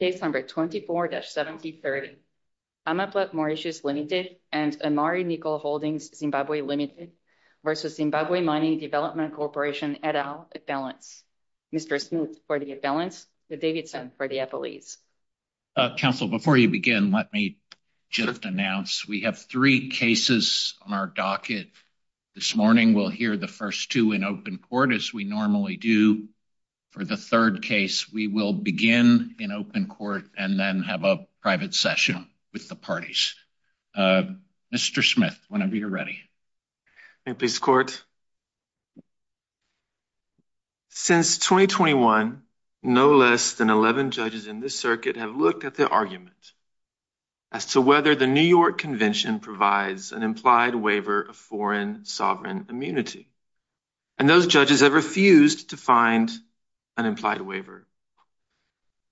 Case number 24-7030, Amaplat Mauritius Ltd. v. Zimbabwe Mining Development Corporation, et al., balance. Mr. Smoot for the balance, Mr. Davidson for the FOEs. Council, before you begin, let me just announce we have three cases on our docket. This morning we'll hear the first two in open court as we normally do. For the third case, we will begin in open court and then have a private session with the parties. Mr. Smith, whenever you're ready. Thank you, Mr. Court. Since 2021, no less than 11 judges in this circuit have looked at the argument as to whether the New York Convention provides an implied waiver of foreign sovereign immunity. And those judges have refused to find an implied waiver.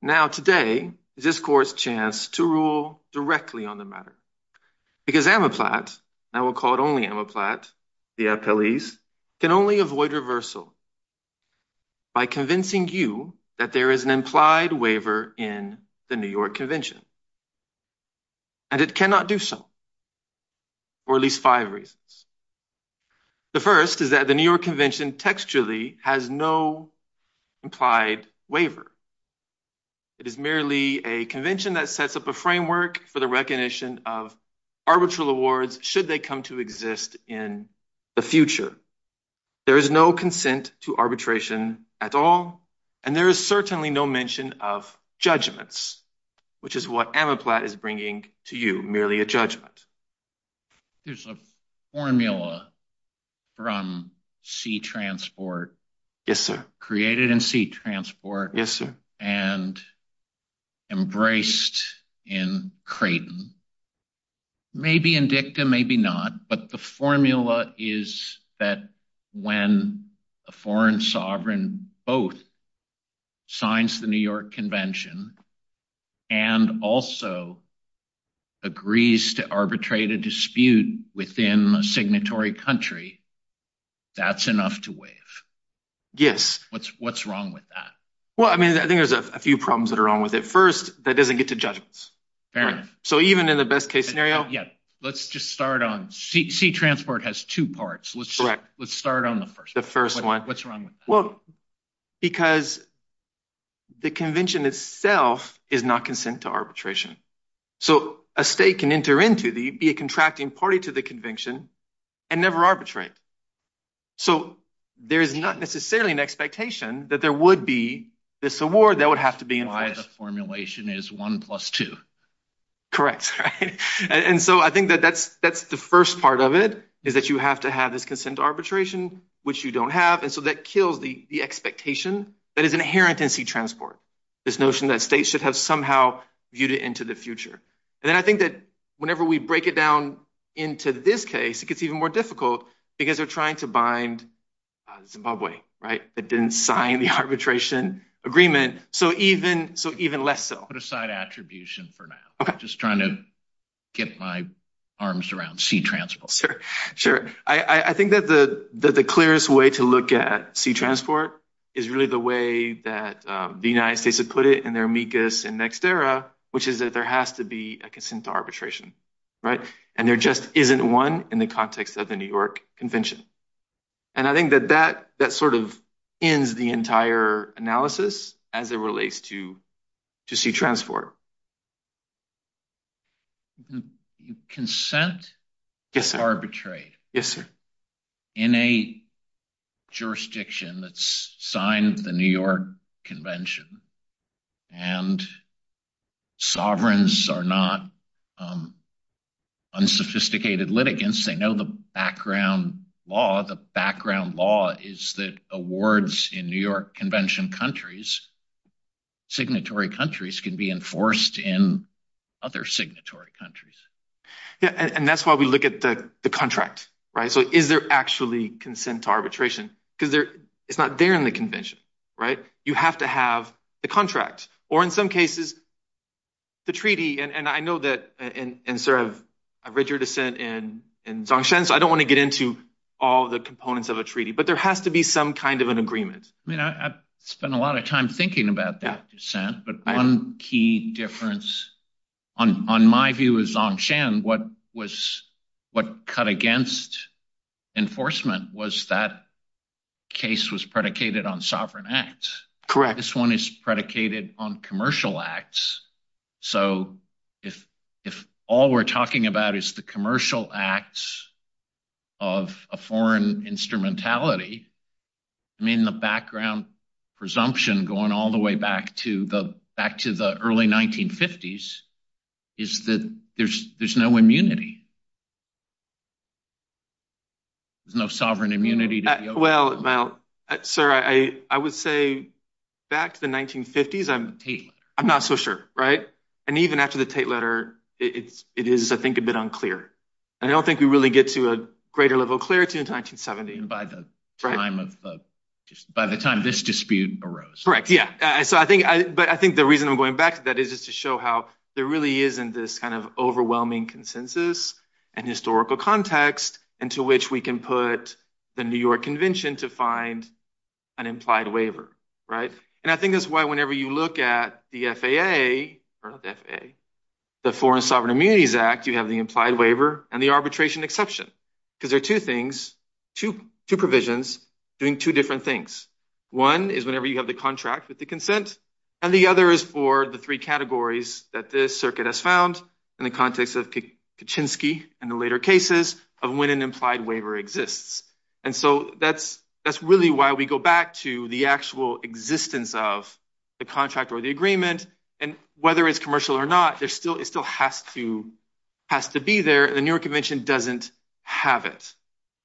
Now today is this court's chance to rule directly on the matter because Amaplat, and I will call it only Amaplat, the appellees, can only avoid reversal by convincing you that there is an implied waiver in the New York Convention. And it cannot do so for at least five reasons. The first is that the New York Convention textually has no implied waiver. It is merely a convention that sets up a framework for the recognition of arbitral awards should they come to exist in the future. There is no consent to arbitration at all. And there is certainly no mention of judgments, which is what Amaplat is bringing to you, merely a judgment. There's a formula from sea transport. Yes, sir. Created in sea transport. Yes, sir. And embraced in Creighton. Maybe in dicta, maybe not. But the formula is that when a foreign sovereign both signs the New York Convention and also agrees to arbitrate a dispute within a signatory country, that's enough to waive. Yes. What's wrong with that? Well, I mean, I think there's a few problems that are wrong with it. First, that doesn't get to judgments. So even in the best case scenario. Yeah. Let's just start on sea transport has two parts. Let's start on the first. The first one. What's wrong? Well, because the convention itself is not consent to arbitration. So a state can enter into the contracting party to the convention and never arbitrate. So there is not necessarily an expectation that there would be this award that would have to be in the formulation is one plus two. Correct. And so I think that that's that's the first part of it, is that you have to have this consent arbitration, which you don't have. And so that kills the expectation that is inherent in sea transport. This notion that states should have somehow viewed it into the future. And then I think that whenever we break it down into this case, it gets even more difficult because they're trying to bind Zimbabwe. Right. It didn't sign the arbitration agreement. So even so, even less so put aside attribution for now. Just trying to get my arms around sea transport. Sure. Sure. I think that the that the clearest way to look at sea transport is really the way that the United States have put it in their amicus and next era, which is that there has to be a consent arbitration. Right. And there just isn't one in the context of the New York Convention. And I think that that that sort of ends the entire analysis as it relates to to sea transport. You consent. Yes, sir. Arbitrate. Yes, sir. In a jurisdiction that's signed the New York Convention. And sovereigns are not unsophisticated litigants. They know the background law. The background law is that awards in New York Convention countries, signatory countries can be enforced in other signatory countries. Yeah. And that's why we look at the contract. Right. So is there actually consent to arbitration? Because there it's not there in the convention. Right. You have to have the contract or in some cases, the treaty. And I know that in sort of a rigid dissent in in Zongshan. So I don't want to get into all the components of a treaty, but there has to be some kind of an agreement. I mean, I've spent a lot of time thinking about that dissent. But one key difference on my view is Zongshan. What was what cut against enforcement was that case was predicated on sovereign acts. Correct. This one is predicated on commercial acts. So if if all we're talking about is the commercial acts of a foreign instrumentality. I mean, the background presumption going all the way back to the back to the early 1950s is that there's there's no immunity. There's no sovereign immunity. Well, well, sir, I would say back to the 1950s, I'm I'm not so sure. Right. And even after the Tate letter, it's it is, I think, a bit unclear. And I don't think we really get to a greater level of clarity in 1970. And by the time of just by the time this dispute arose. Correct. Yeah. So I think but I think the reason I'm going back to that is just to show how there really isn't this kind of overwhelming consensus and historical context into which we can put the New York Convention to find an implied waiver. Right. And I think that's why whenever you look at the FAA or the FAA, the Foreign Sovereign Immunities Act, you have the implied waiver and the arbitration exception because there are two things to two provisions doing two different things. One is whenever you have the contract with the consent and the other is for the three categories that this circuit has found in the context of Kaczynski and the later cases of when an implied waiver exists. And so that's that's really why we go back to the actual existence of the contract or the agreement. And whether it's commercial or not, there's still it still has to has to be there. The New York Convention doesn't have it.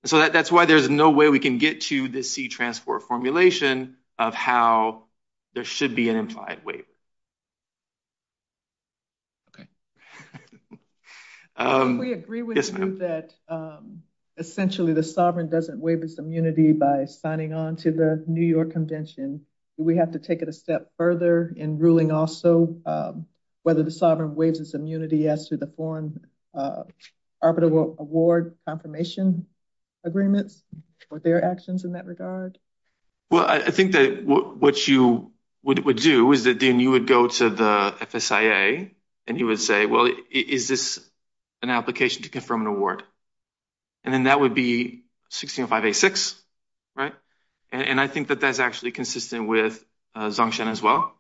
So that's why there's no way we can get to the sea transport formulation of how there should be an implied waiver. OK. We agree with that. Essentially, the sovereign doesn't waive his immunity by signing on to the New York Convention. We have to take it a step further in ruling also whether the sovereign waives his immunity as to the foreign arbitral award confirmation agreements or their actions in that regard. Well, I think that what you would do is that then you would go to the FSIA and you would say, well, is this an application to confirm an award? And then that would be 1605A6. Right. And I think that that's actually consistent with Zongshan as well,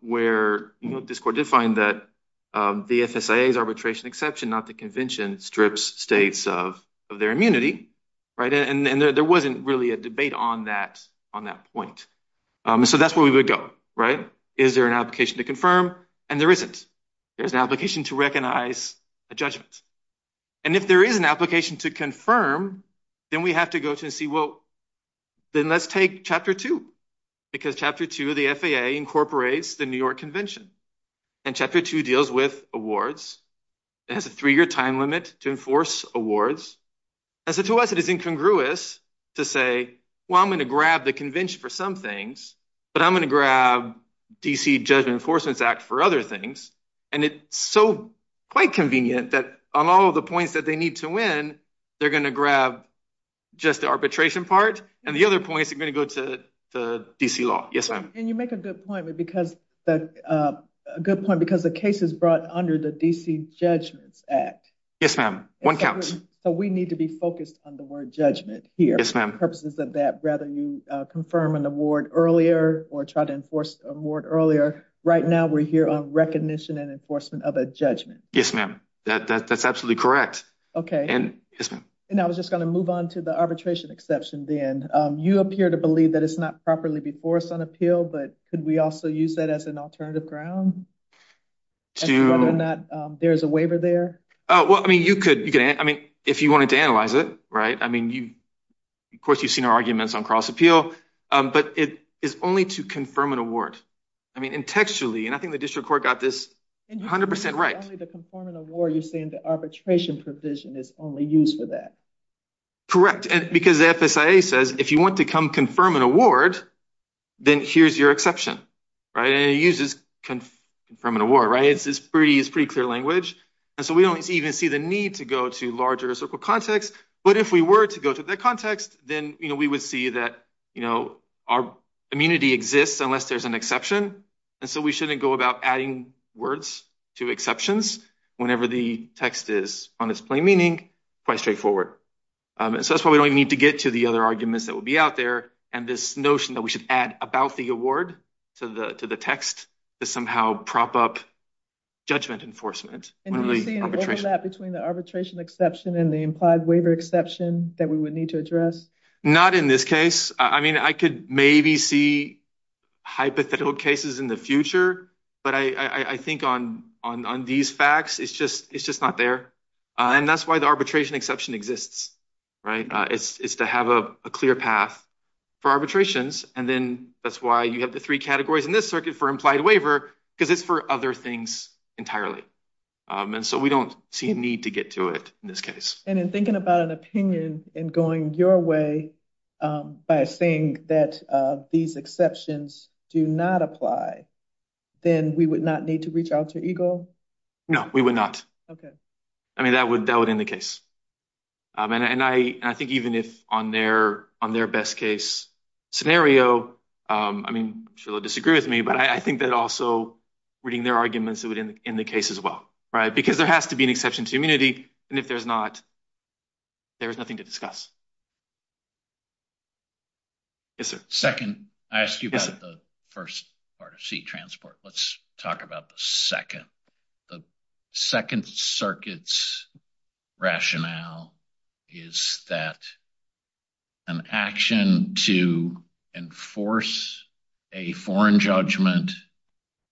where this court did find that the FSIA's arbitration exception, not the convention, strips states of their immunity. Right. And there wasn't really a debate on that on that point. So that's where we would go. Right. Is there an application to confirm? And there isn't. There's an application to recognize a judgment. And if there is an to confirm, then we have to go to and see, well, then let's take chapter two, because chapter two of the FSA incorporates the New York Convention and chapter two deals with awards. It has a three year time limit to enforce awards. And so to us, it is incongruous to say, well, I'm going to grab the convention for some things, but I'm going to grab D.C. Judgment Enforcement Act for other things. And it's so quite convenient that on all of the points that they need to win, they're going to grab just the arbitration part and the other points are going to go to the D.C. law. Yes, ma'am. And you make a good point because the good point because the case is brought under the D.C. Judgments Act. Yes, ma'am. One counts. So we need to be focused on the word judgment here. Yes, ma'am. For purposes of that, rather you confirm an award earlier or try to enforce a word earlier. Right now, we're here on recognition and enforcement of a judgment. Yes, ma'am. That's absolutely correct. OK. And I was just going to move on to the arbitration exception. Then you appear to believe that it's not properly before us on appeal. But could we also use that as an alternative ground to whether or not there is a waiver there? Well, I mean, you could. I mean, if you wanted to analyze it right. I mean, you of course, you've seen our award. I mean, textually, and I think the district court got this 100 percent right. The conformant award, you're saying the arbitration provision is only used for that. Correct. And because the FSA says if you want to come confirm an award, then here's your exception. Right. And it uses from an award. Right. It's pretty. It's pretty clear language. And so we don't even see the need to go to larger circle context. But if we were to go to the context, then we would see that, you know, our immunity exists unless there's an exception. And so we shouldn't go about adding words to exceptions whenever the text is on its plain meaning, quite straightforward. So that's why we don't need to get to the other arguments that would be out there. And this notion that we should add about the award to the to the text to somehow prop up judgment enforcement. And you see that between the arbitration exception and the implied waiver exception that we would need to address? Not in this case. I mean, I could maybe see hypothetical cases in the future, but I think on on these facts, it's just it's just not there. And that's why the arbitration exception exists. Right. It's to have a clear path for arbitrations. And then that's why you have the three categories in this circuit for implied waiver because it's for other things entirely. And so we don't see a need to get to it in this case. And in thinking about an opinion and going your way by saying that these exceptions do not apply, then we would not need to reach out to EGLE? No, we would not. OK. I mean, that would that would in the case. And I think even if on their on their best case scenario, I mean, she'll disagree with me, but I think that also reading their arguments in the case as well. Right. Because there has to be an exception to immunity. And if there's not. There is nothing to discuss. Yes, sir. Second, I ask you about the first part of seat transport. Let's talk about the second. The Second Circuit's rationale is that. An action to enforce a foreign judgment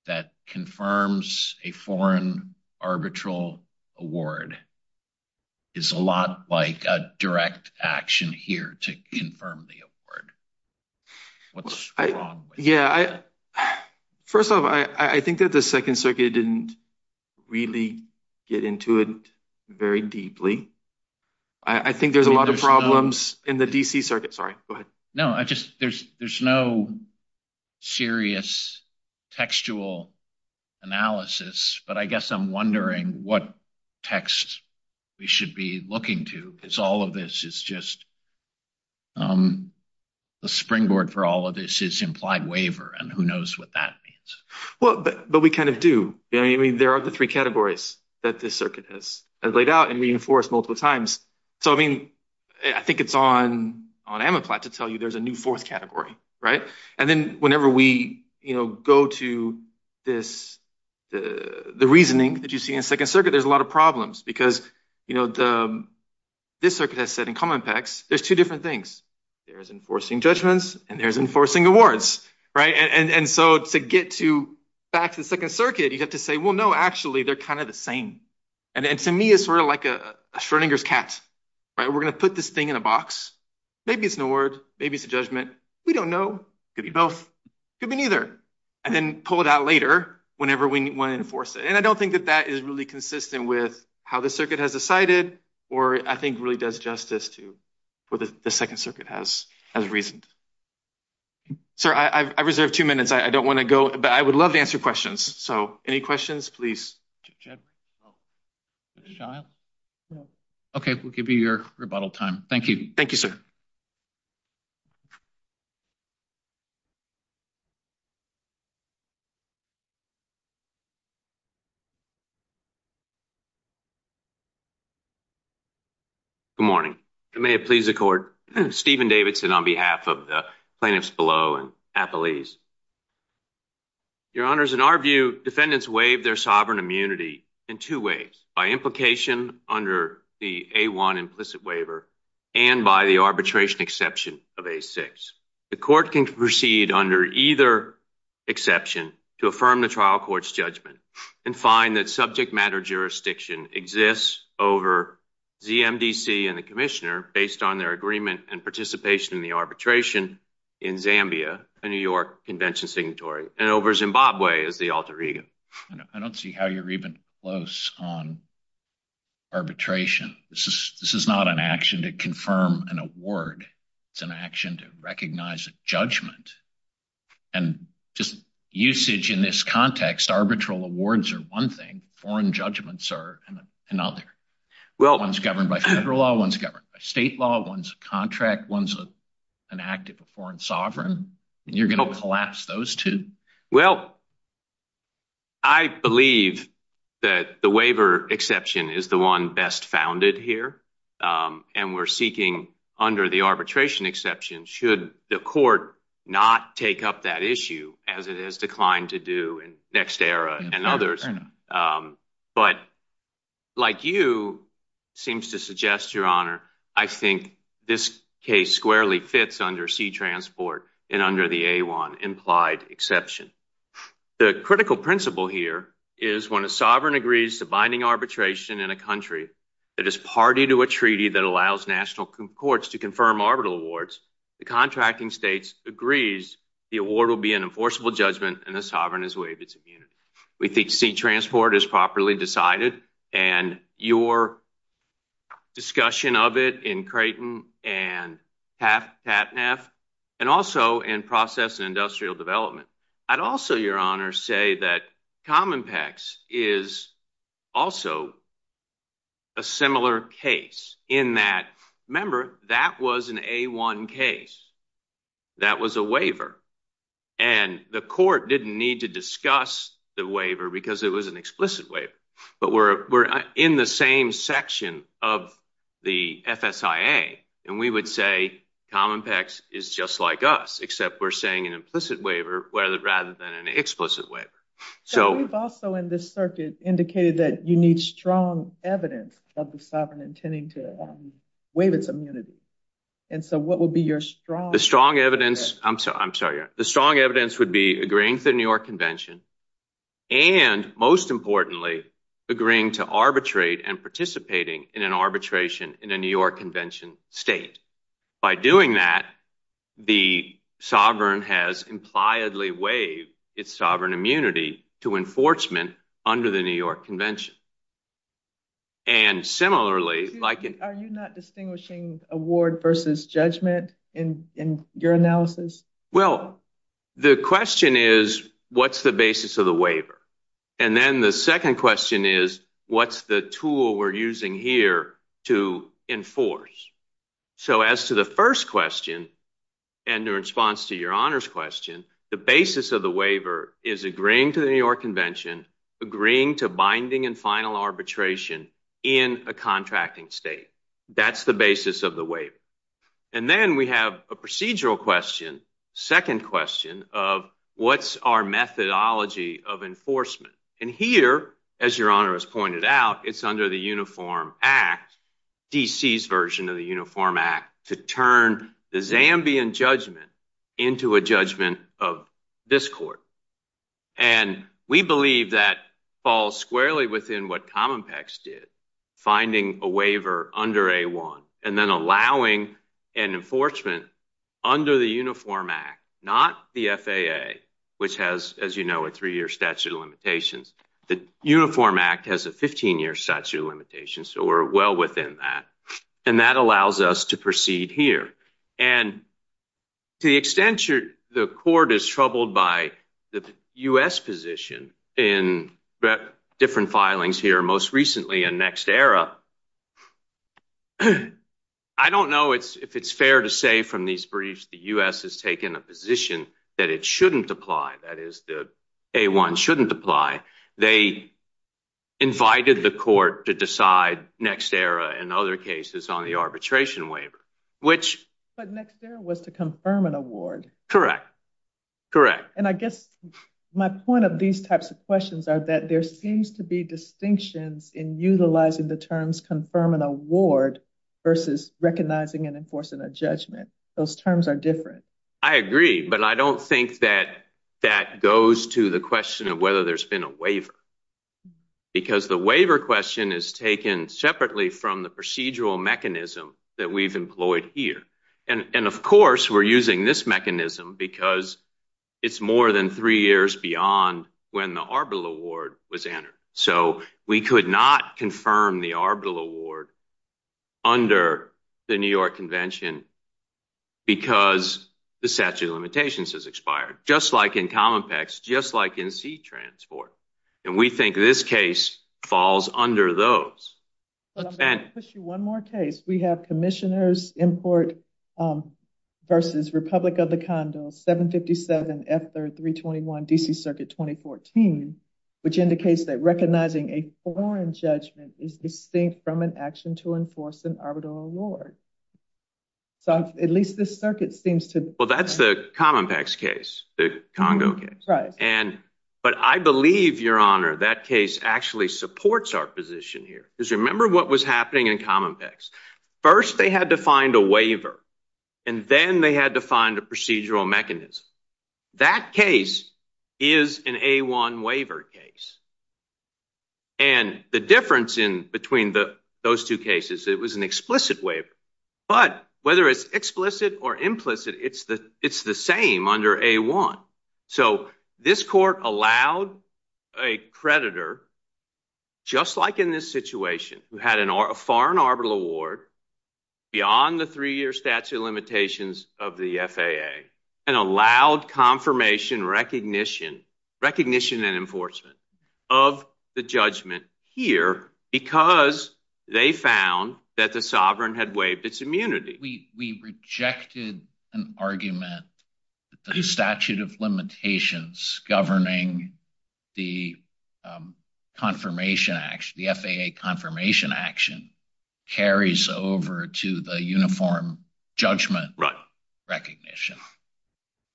that confirms a foreign arbitral award is a lot like a direct action here to confirm the award. What's wrong? Yeah. First off, I think that the Second Circuit didn't really get into it very deeply. I think there's a lot of problems in the D.C. Circuit. Sorry. No, I just there's no serious textual analysis. But I guess I'm wondering what text we should be looking to, because all of this is just. The springboard for all of this is implied waiver and who knows what that means? Well, but we kind of do. I mean, there are the three categories that the circuit has laid out and reinforced multiple times. So, I mean, I think it's on on Amiplat to tell you there's a new fourth category. Right. And then whenever we go to this, the reasoning that you see in Second Circuit, there's a lot of problems because, you know, the this circuit has said in common pecs, there's two different things. There is enforcing judgments and there's enforcing awards. Right. And so to get to back to the Second Circuit, you have to say, well, no, actually, they're kind of the same. And to me, it's sort of like a Schrodinger's cat. Right. We're going to put this thing in a box. Maybe it's an award. Maybe it's a judgment. We don't know. Could be both. Could be neither. And then pull it out later whenever we want to enforce it. And I don't think that that is really consistent with how the circuit has decided or I think really does justice to what the Second Circuit has as reasoned. Sir, I've reserved two minutes. I don't want to go, but I would love to answer questions. So any questions, please. Jed. Okay, we'll give you your rebuttal time. Thank you. Thank you, sir. Good morning. May it please the court. Stephen Davidson on behalf of the plaintiffs below and appellees. Your honors, in our view, defendants waive their sovereign immunity in two ways by implication under the a one implicit waiver and by the arbitration exception of a six. The court can proceed under either exception to affirm the trial court's judgment and find that subject matter jurisdiction exists over ZMDC and the commissioner based on their agreement and participation in the arbitration in Zambia, a New York convention signatory, and over Zimbabwe as the alter ego. I don't see how you're even close on arbitration. This is this is not an action to confirm an award. It's an action to recognize a judgment and just usage in this context. Arbitral awards are one thing. Foreign judgments are another. Well, one's governed by federal law. One's governed by state law. One's a contract. One's an active foreign sovereign, and you're going to collapse those two. Well, I believe that the waiver exception is the one best founded here, and we're seeking under the arbitration exception should the court not take up that issue as it has declined to do in next era and others. But like you seems to suggest, your honor, I think this case squarely fits under sea transport and under the A1 implied exception. The critical principle here is when a sovereign agrees to binding arbitration in a country that is party to a treaty that allows national courts to confirm arbitral awards, the contracting states agrees the award will be an enforceable judgment and the sovereign is waived its immunity. We think sea transport is properly decided and your discussion of it in Creighton and Patnaff and also in process and industrial development. I'd also, your honor, say that Cominpex is also a similar case in that, remember, that was an A1 case. That was a waiver, and the court didn't need to discuss the waiver because it was an explicit waiver, but we're in the same section of the FSIA, and we would say Cominpex is just like us, except we're saying an implicit waiver rather than an explicit waiver. So we've also in this circuit indicated that you need strong evidence of the sovereign intending to waive its immunity, and so what would be your strong evidence? The strong evidence, I'm sorry, I'm sorry, the strong evidence would be agreeing to the New York Convention and, most importantly, agreeing to arbitrate and participating in an arbitration in a New York Convention state. By doing that, the sovereign has impliedly waived its sovereign immunity to enforcement under the New York Convention. So what's the basis of the waiver? And then the second question is, what's the tool we're using here to enforce? So as to the first question, and in response to your honor's question, the basis of the waiver is agreeing to the New York Convention, agreeing to binding and final arbitration in a contracting state. That's the basis of the waiver. And then we have a procedural question, second question, of what's our methodology of enforcement? And here, as your honor has pointed out, it's under the Uniform Act, D.C.'s version of the Uniform Act, to turn the Zambian judgment into a judgment of this court. And we believe that falls squarely within what Cominpex did, finding a waiver under A1 and then allowing an enforcement under the Uniform Act, not the FAA, which has, as you know, a three-year statute of limitations. The Uniform Act has a 15-year statute of limitations, so we're well within that, and that allows us to proceed here. And to the extent the court is troubled by the U.S. position in different filings here, most recently in Next Era, I don't know if it's fair to say from these briefs the U.S. has taken a position that it shouldn't apply, that is, that A1 shouldn't apply. They invited the court to decide Next Era and other cases on the arbitration waiver, which... But Next Era was to confirm an award. Correct. Correct. And I guess my point of these types of questions are that there seems to be distinctions in utilizing the terms confirm and award versus recognizing and enforcing a judgment. Those terms are different. I agree, but I don't think that that goes to the question of whether there's been a waiver, because the waiver question is taken separately from the procedural mechanism that we've employed here. And of course, we're using this mechanism because it's more than three years beyond when the arbitral award was entered. So we could not confirm the arbitral award under the New York Convention because the statute of limitations has expired, just like in Cominpex, just like in C-Transport. And we think this case falls under those. But I'm going to push you one more case. We have Commissioner's Import versus Republic of the Condos 757 F321 D.C. Circuit 2014, which indicates that recognizing a foreign judgment is distinct from an action to enforce an arbitral award. So at least this circuit seems to... That's the Cominpex case, the Congo case. But I believe, Your Honor, that case actually supports our position here. Because remember what was happening in Cominpex. First, they had to find a waiver, and then they had to find a procedural mechanism. That case is an A-1 waiver case. And the difference in between those two cases, it was an explicit waiver. But whether it's explicit or implicit, it's the same under A-1. So this court allowed a creditor, just like in this situation, who had a foreign arbitral award beyond the three-year statute of limitations of the FAA, and allowed confirmation, recognition, and enforcement of the judgment here because they found that the sovereign had waived its immunity. We rejected an argument that the statute of limitations governing the Confirmation Act, the FAA Confirmation Action, carries over to the uniform judgment recognition.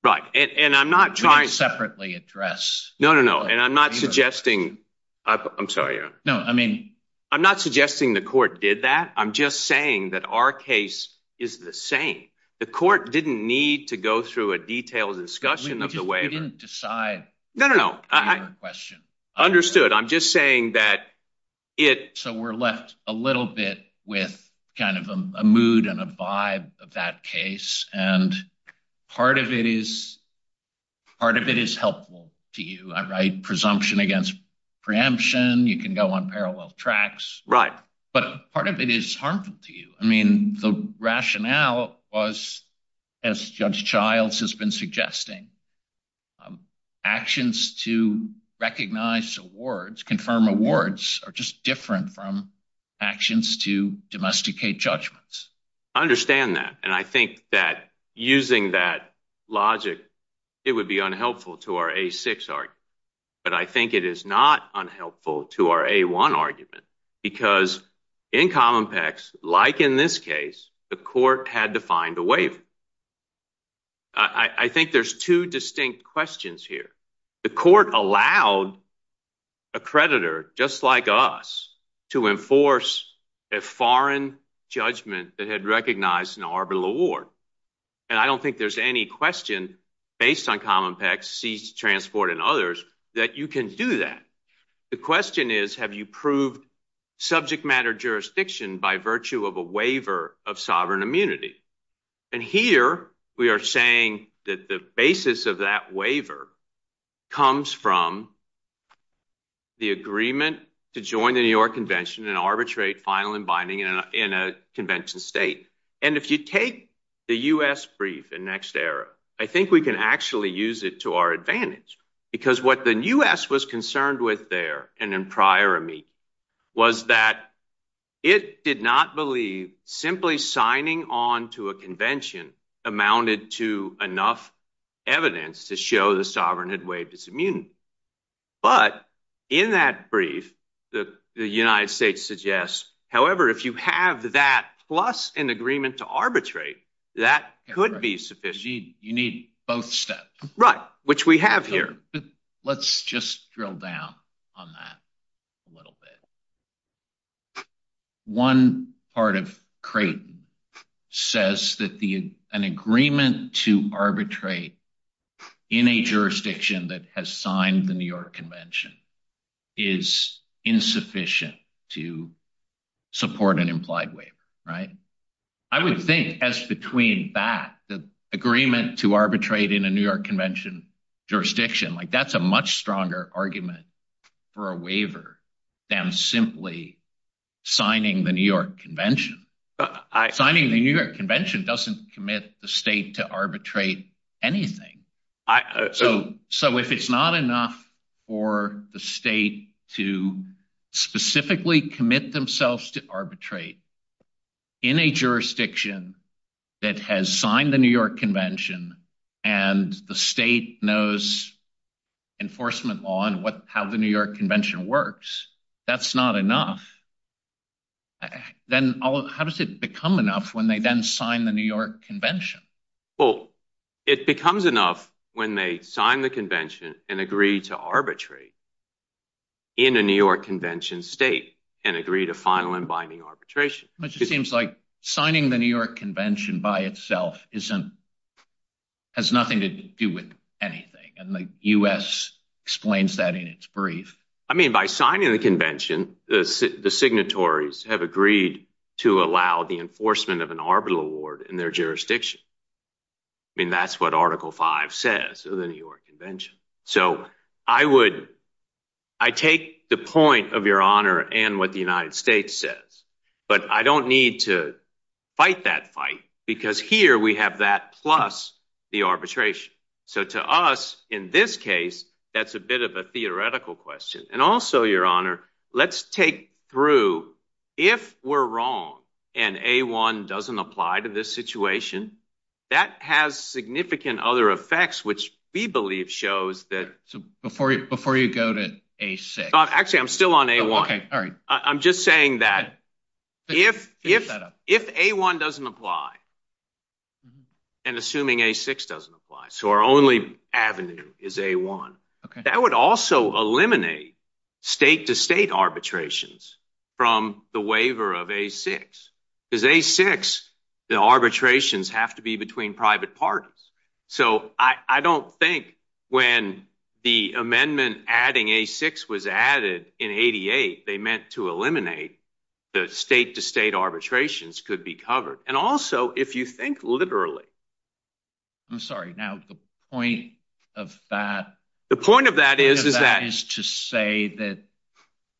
Right. And I'm not trying... We can separately address... No, no, no. And I'm not suggesting... I'm sorry, Your Honor. No, I mean... I'm not suggesting the court did that. I'm just saying that our case is the same. The court didn't need to go through a detailed discussion of the waiver. We didn't decide... No, no, no. ...on your question. Understood. I'm just saying that it... So we're left a little bit with kind of a mood and a vibe of that case. And part of it is helpful to you. I write presumption against preemption. You can go on parallel tracks. Right. But part of it is harmful to you. I mean, the rationale was, as Judge Childs has been suggesting, actions to recognize awards, confirm awards, are just different from actions to domesticate judgments. I understand that. And I think that using that logic, it would be unhelpful to our A-6 argument. But I think it is not unhelpful to our A-1 argument. Because in Cominpex, like in this case, the court had to find a waiver. I think there's two distinct questions here. The court allowed a creditor, just like us, to enforce a foreign judgment that had recognized an arbitral award. And I don't think there's any question, based on Cominpex, Cease Transport, and others, that you can do that. The question is, have you proved subject matter jurisdiction by virtue of a waiver of sovereign immunity? And here, we are saying that the basis of that waiver comes from the agreement to join the New York Convention and arbitrate filing binding in a convention state. And if you take the U.S. brief in NextEra, I think we can actually use it to our advantage. Because what the U.S. was concerned with there, and in prior amici, was that it did not believe simply signing on to a convention amounted to enough evidence to show the sovereign had waived its immunity. But in that brief, the United States suggests, however, if you have that, plus an agreement to arbitrate, that could be sufficient. You need both steps. Right. Which we have here. Let's just drill down on that a little bit. One part of Creighton says that an agreement to arbitrate in a jurisdiction that has signed the New York Convention is insufficient to support an implied waiver, right? I would think as between that, the agreement to arbitrate in a New York Convention jurisdiction, that's a much stronger argument for a waiver than simply signing the New York Convention. Signing the New York Convention doesn't commit the state to arbitrate anything. So if it's not enough for the state to specifically commit themselves to arbitrate in a jurisdiction that has signed the New York Convention and the state knows enforcement law and how the New York Convention works, that's not enough. Then how does it become enough when they then sign the New York Convention? Well, it becomes enough when they sign the convention and agree to arbitrate in a New York Convention state and agree to final and binding arbitration. It seems like signing the New York Convention by itself has nothing to do with anything, and the U.S. explains that in its brief. I mean, by signing the convention, the signatories have agreed to allow the enforcement of an arbitral award in their jurisdiction. I mean, that's what Article 5 says of the New York Convention. So I take the point of your honor and what the United States says, but I don't need to fight that fight because here we have that plus the arbitration. So to us, in this case, that's a bit of a theoretical question. And also, your honor, let's take through if we're wrong and A1 doesn't apply to this situation, that has significant other effects, which we believe shows that... So before you go to A6... Actually, I'm still on A1. Okay, all right. I'm just saying that if A1 doesn't apply and assuming A6 doesn't apply, so our only avenue is A1, that would also eliminate state-to-state arbitrations from the waiver of A6. Because A6, the arbitrations have to be between private parties. So I don't think when the amendment adding A6 was added in 88, they meant to eliminate the state-to-state arbitrations could be covered. And also, if you think literally... I'm sorry. Now, the point of that... The point of that is... The point of that is to say that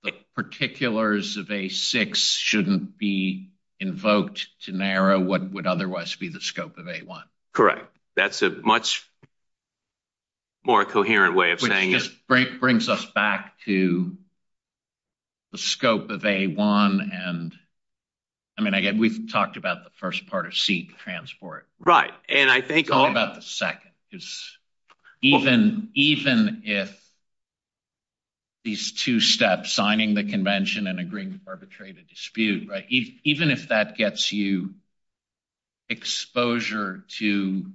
the particulars of A6 shouldn't be invoked to narrow what would otherwise be the scope of A1. Correct. That's a much more coherent way of saying... Which just brings us back to the scope of A1 and... I mean, again, we've talked about the first part of seat transport. Right. And I think... Let's talk about the second. Even if these two steps, signing the convention and agreeing to arbitrate a dispute, even if that gets you exposure to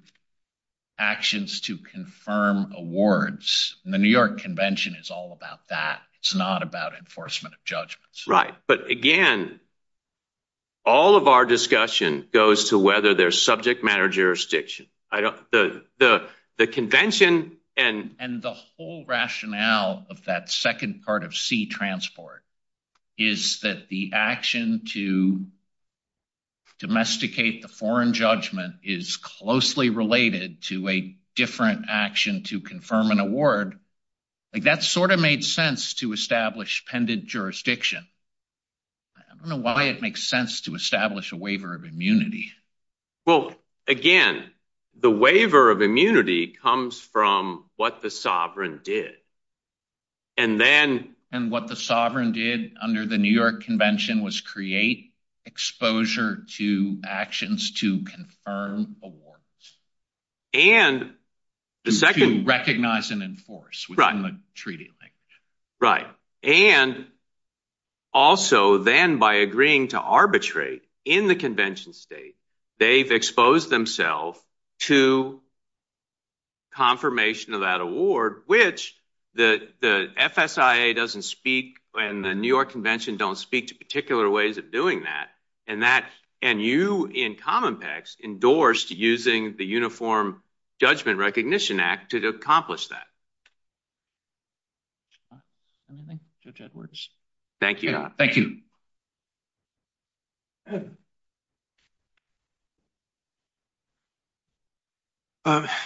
actions to confirm awards, the New York Convention is all about that. It's not about enforcement of judgments. Right. But again, all of our discussion goes to whether there's subject matter jurisdiction. The convention and... The whole rationale of that second part of seat transport is that the action to domesticate the foreign judgment is closely related to a different action to confirm an award. That sort of made sense to establish pendent jurisdiction. I don't know why it makes sense to establish a waiver of immunity. Well, again, the waiver of immunity comes from what the sovereign did. And then... And what the sovereign did under the New York Convention was create exposure to actions to confirm awards. And the second... To recognize and enforce within the treaty language. Right. And also, then by agreeing to arbitrate in the convention state, they've exposed themselves to confirmation of that award, which the FSIA doesn't speak and the New York Convention don't speak to particular ways of doing that. And that... And you in Commonpex endorsed using the Uniform Judgment Recognition Act to accomplish that. Anything? Judge Edwards? Thank you. Thank you.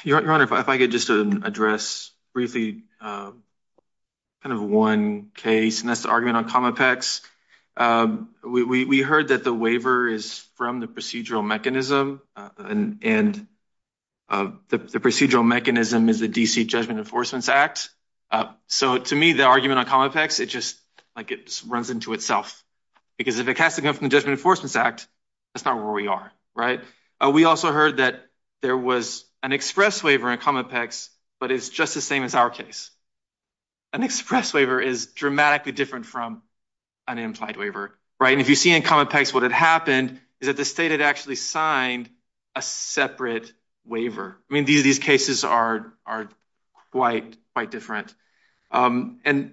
Your Honor, if I could just address briefly kind of one case, and that's the argument on Commonpex. We heard that the waiver is from the procedural mechanism. And the procedural mechanism is the D.C. Judgment Enforcement Act. So to me, the argument on Commonpex, it just runs into itself. Because if it has to come from the Judgment Enforcement Act, that's not where we are. Right. We also heard that there was an express waiver in Commonpex, but it's just the same as our case. An express waiver is dramatically different from an implied waiver. Right. And if you see in Commonpex, what had happened is that the state had actually signed a separate waiver. I mean, these cases are quite different. And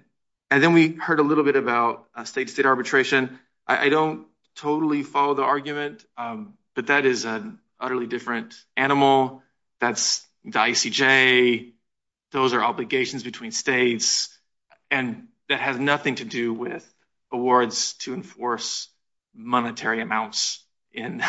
then we heard a little bit about state-to-state arbitration. I don't totally follow the argument, but that is an utterly different animal. That's the ICJ. Those are obligations between states. And that has nothing to do with awards to enforce monetary amounts in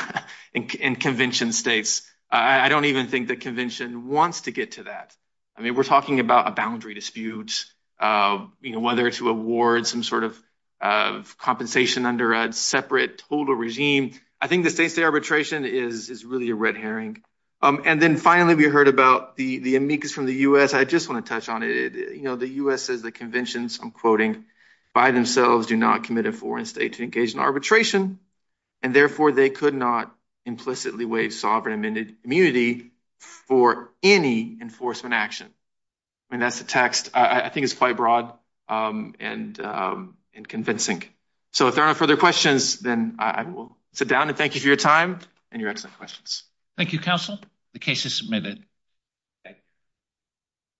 convention states. I don't even think the convention wants to get to that. I mean, we're talking about a boundary dispute, whether to award some sort of compensation under a separate total regime. I think the state-to-state arbitration is really a red herring. And then finally, we heard about the amicus from the U.S. I just want to touch on it. The U.S. says the conventions, I'm quoting, by themselves do not commit a foreign state to engage in arbitration. And therefore, they could not implicitly waive sovereign immunity for any enforcement action. I mean, that's the text. I think it's quite broad and convincing. So if there are no further questions, then I will sit down. And thank you for your time and your excellent questions. Thank you, counsel. The case is submitted.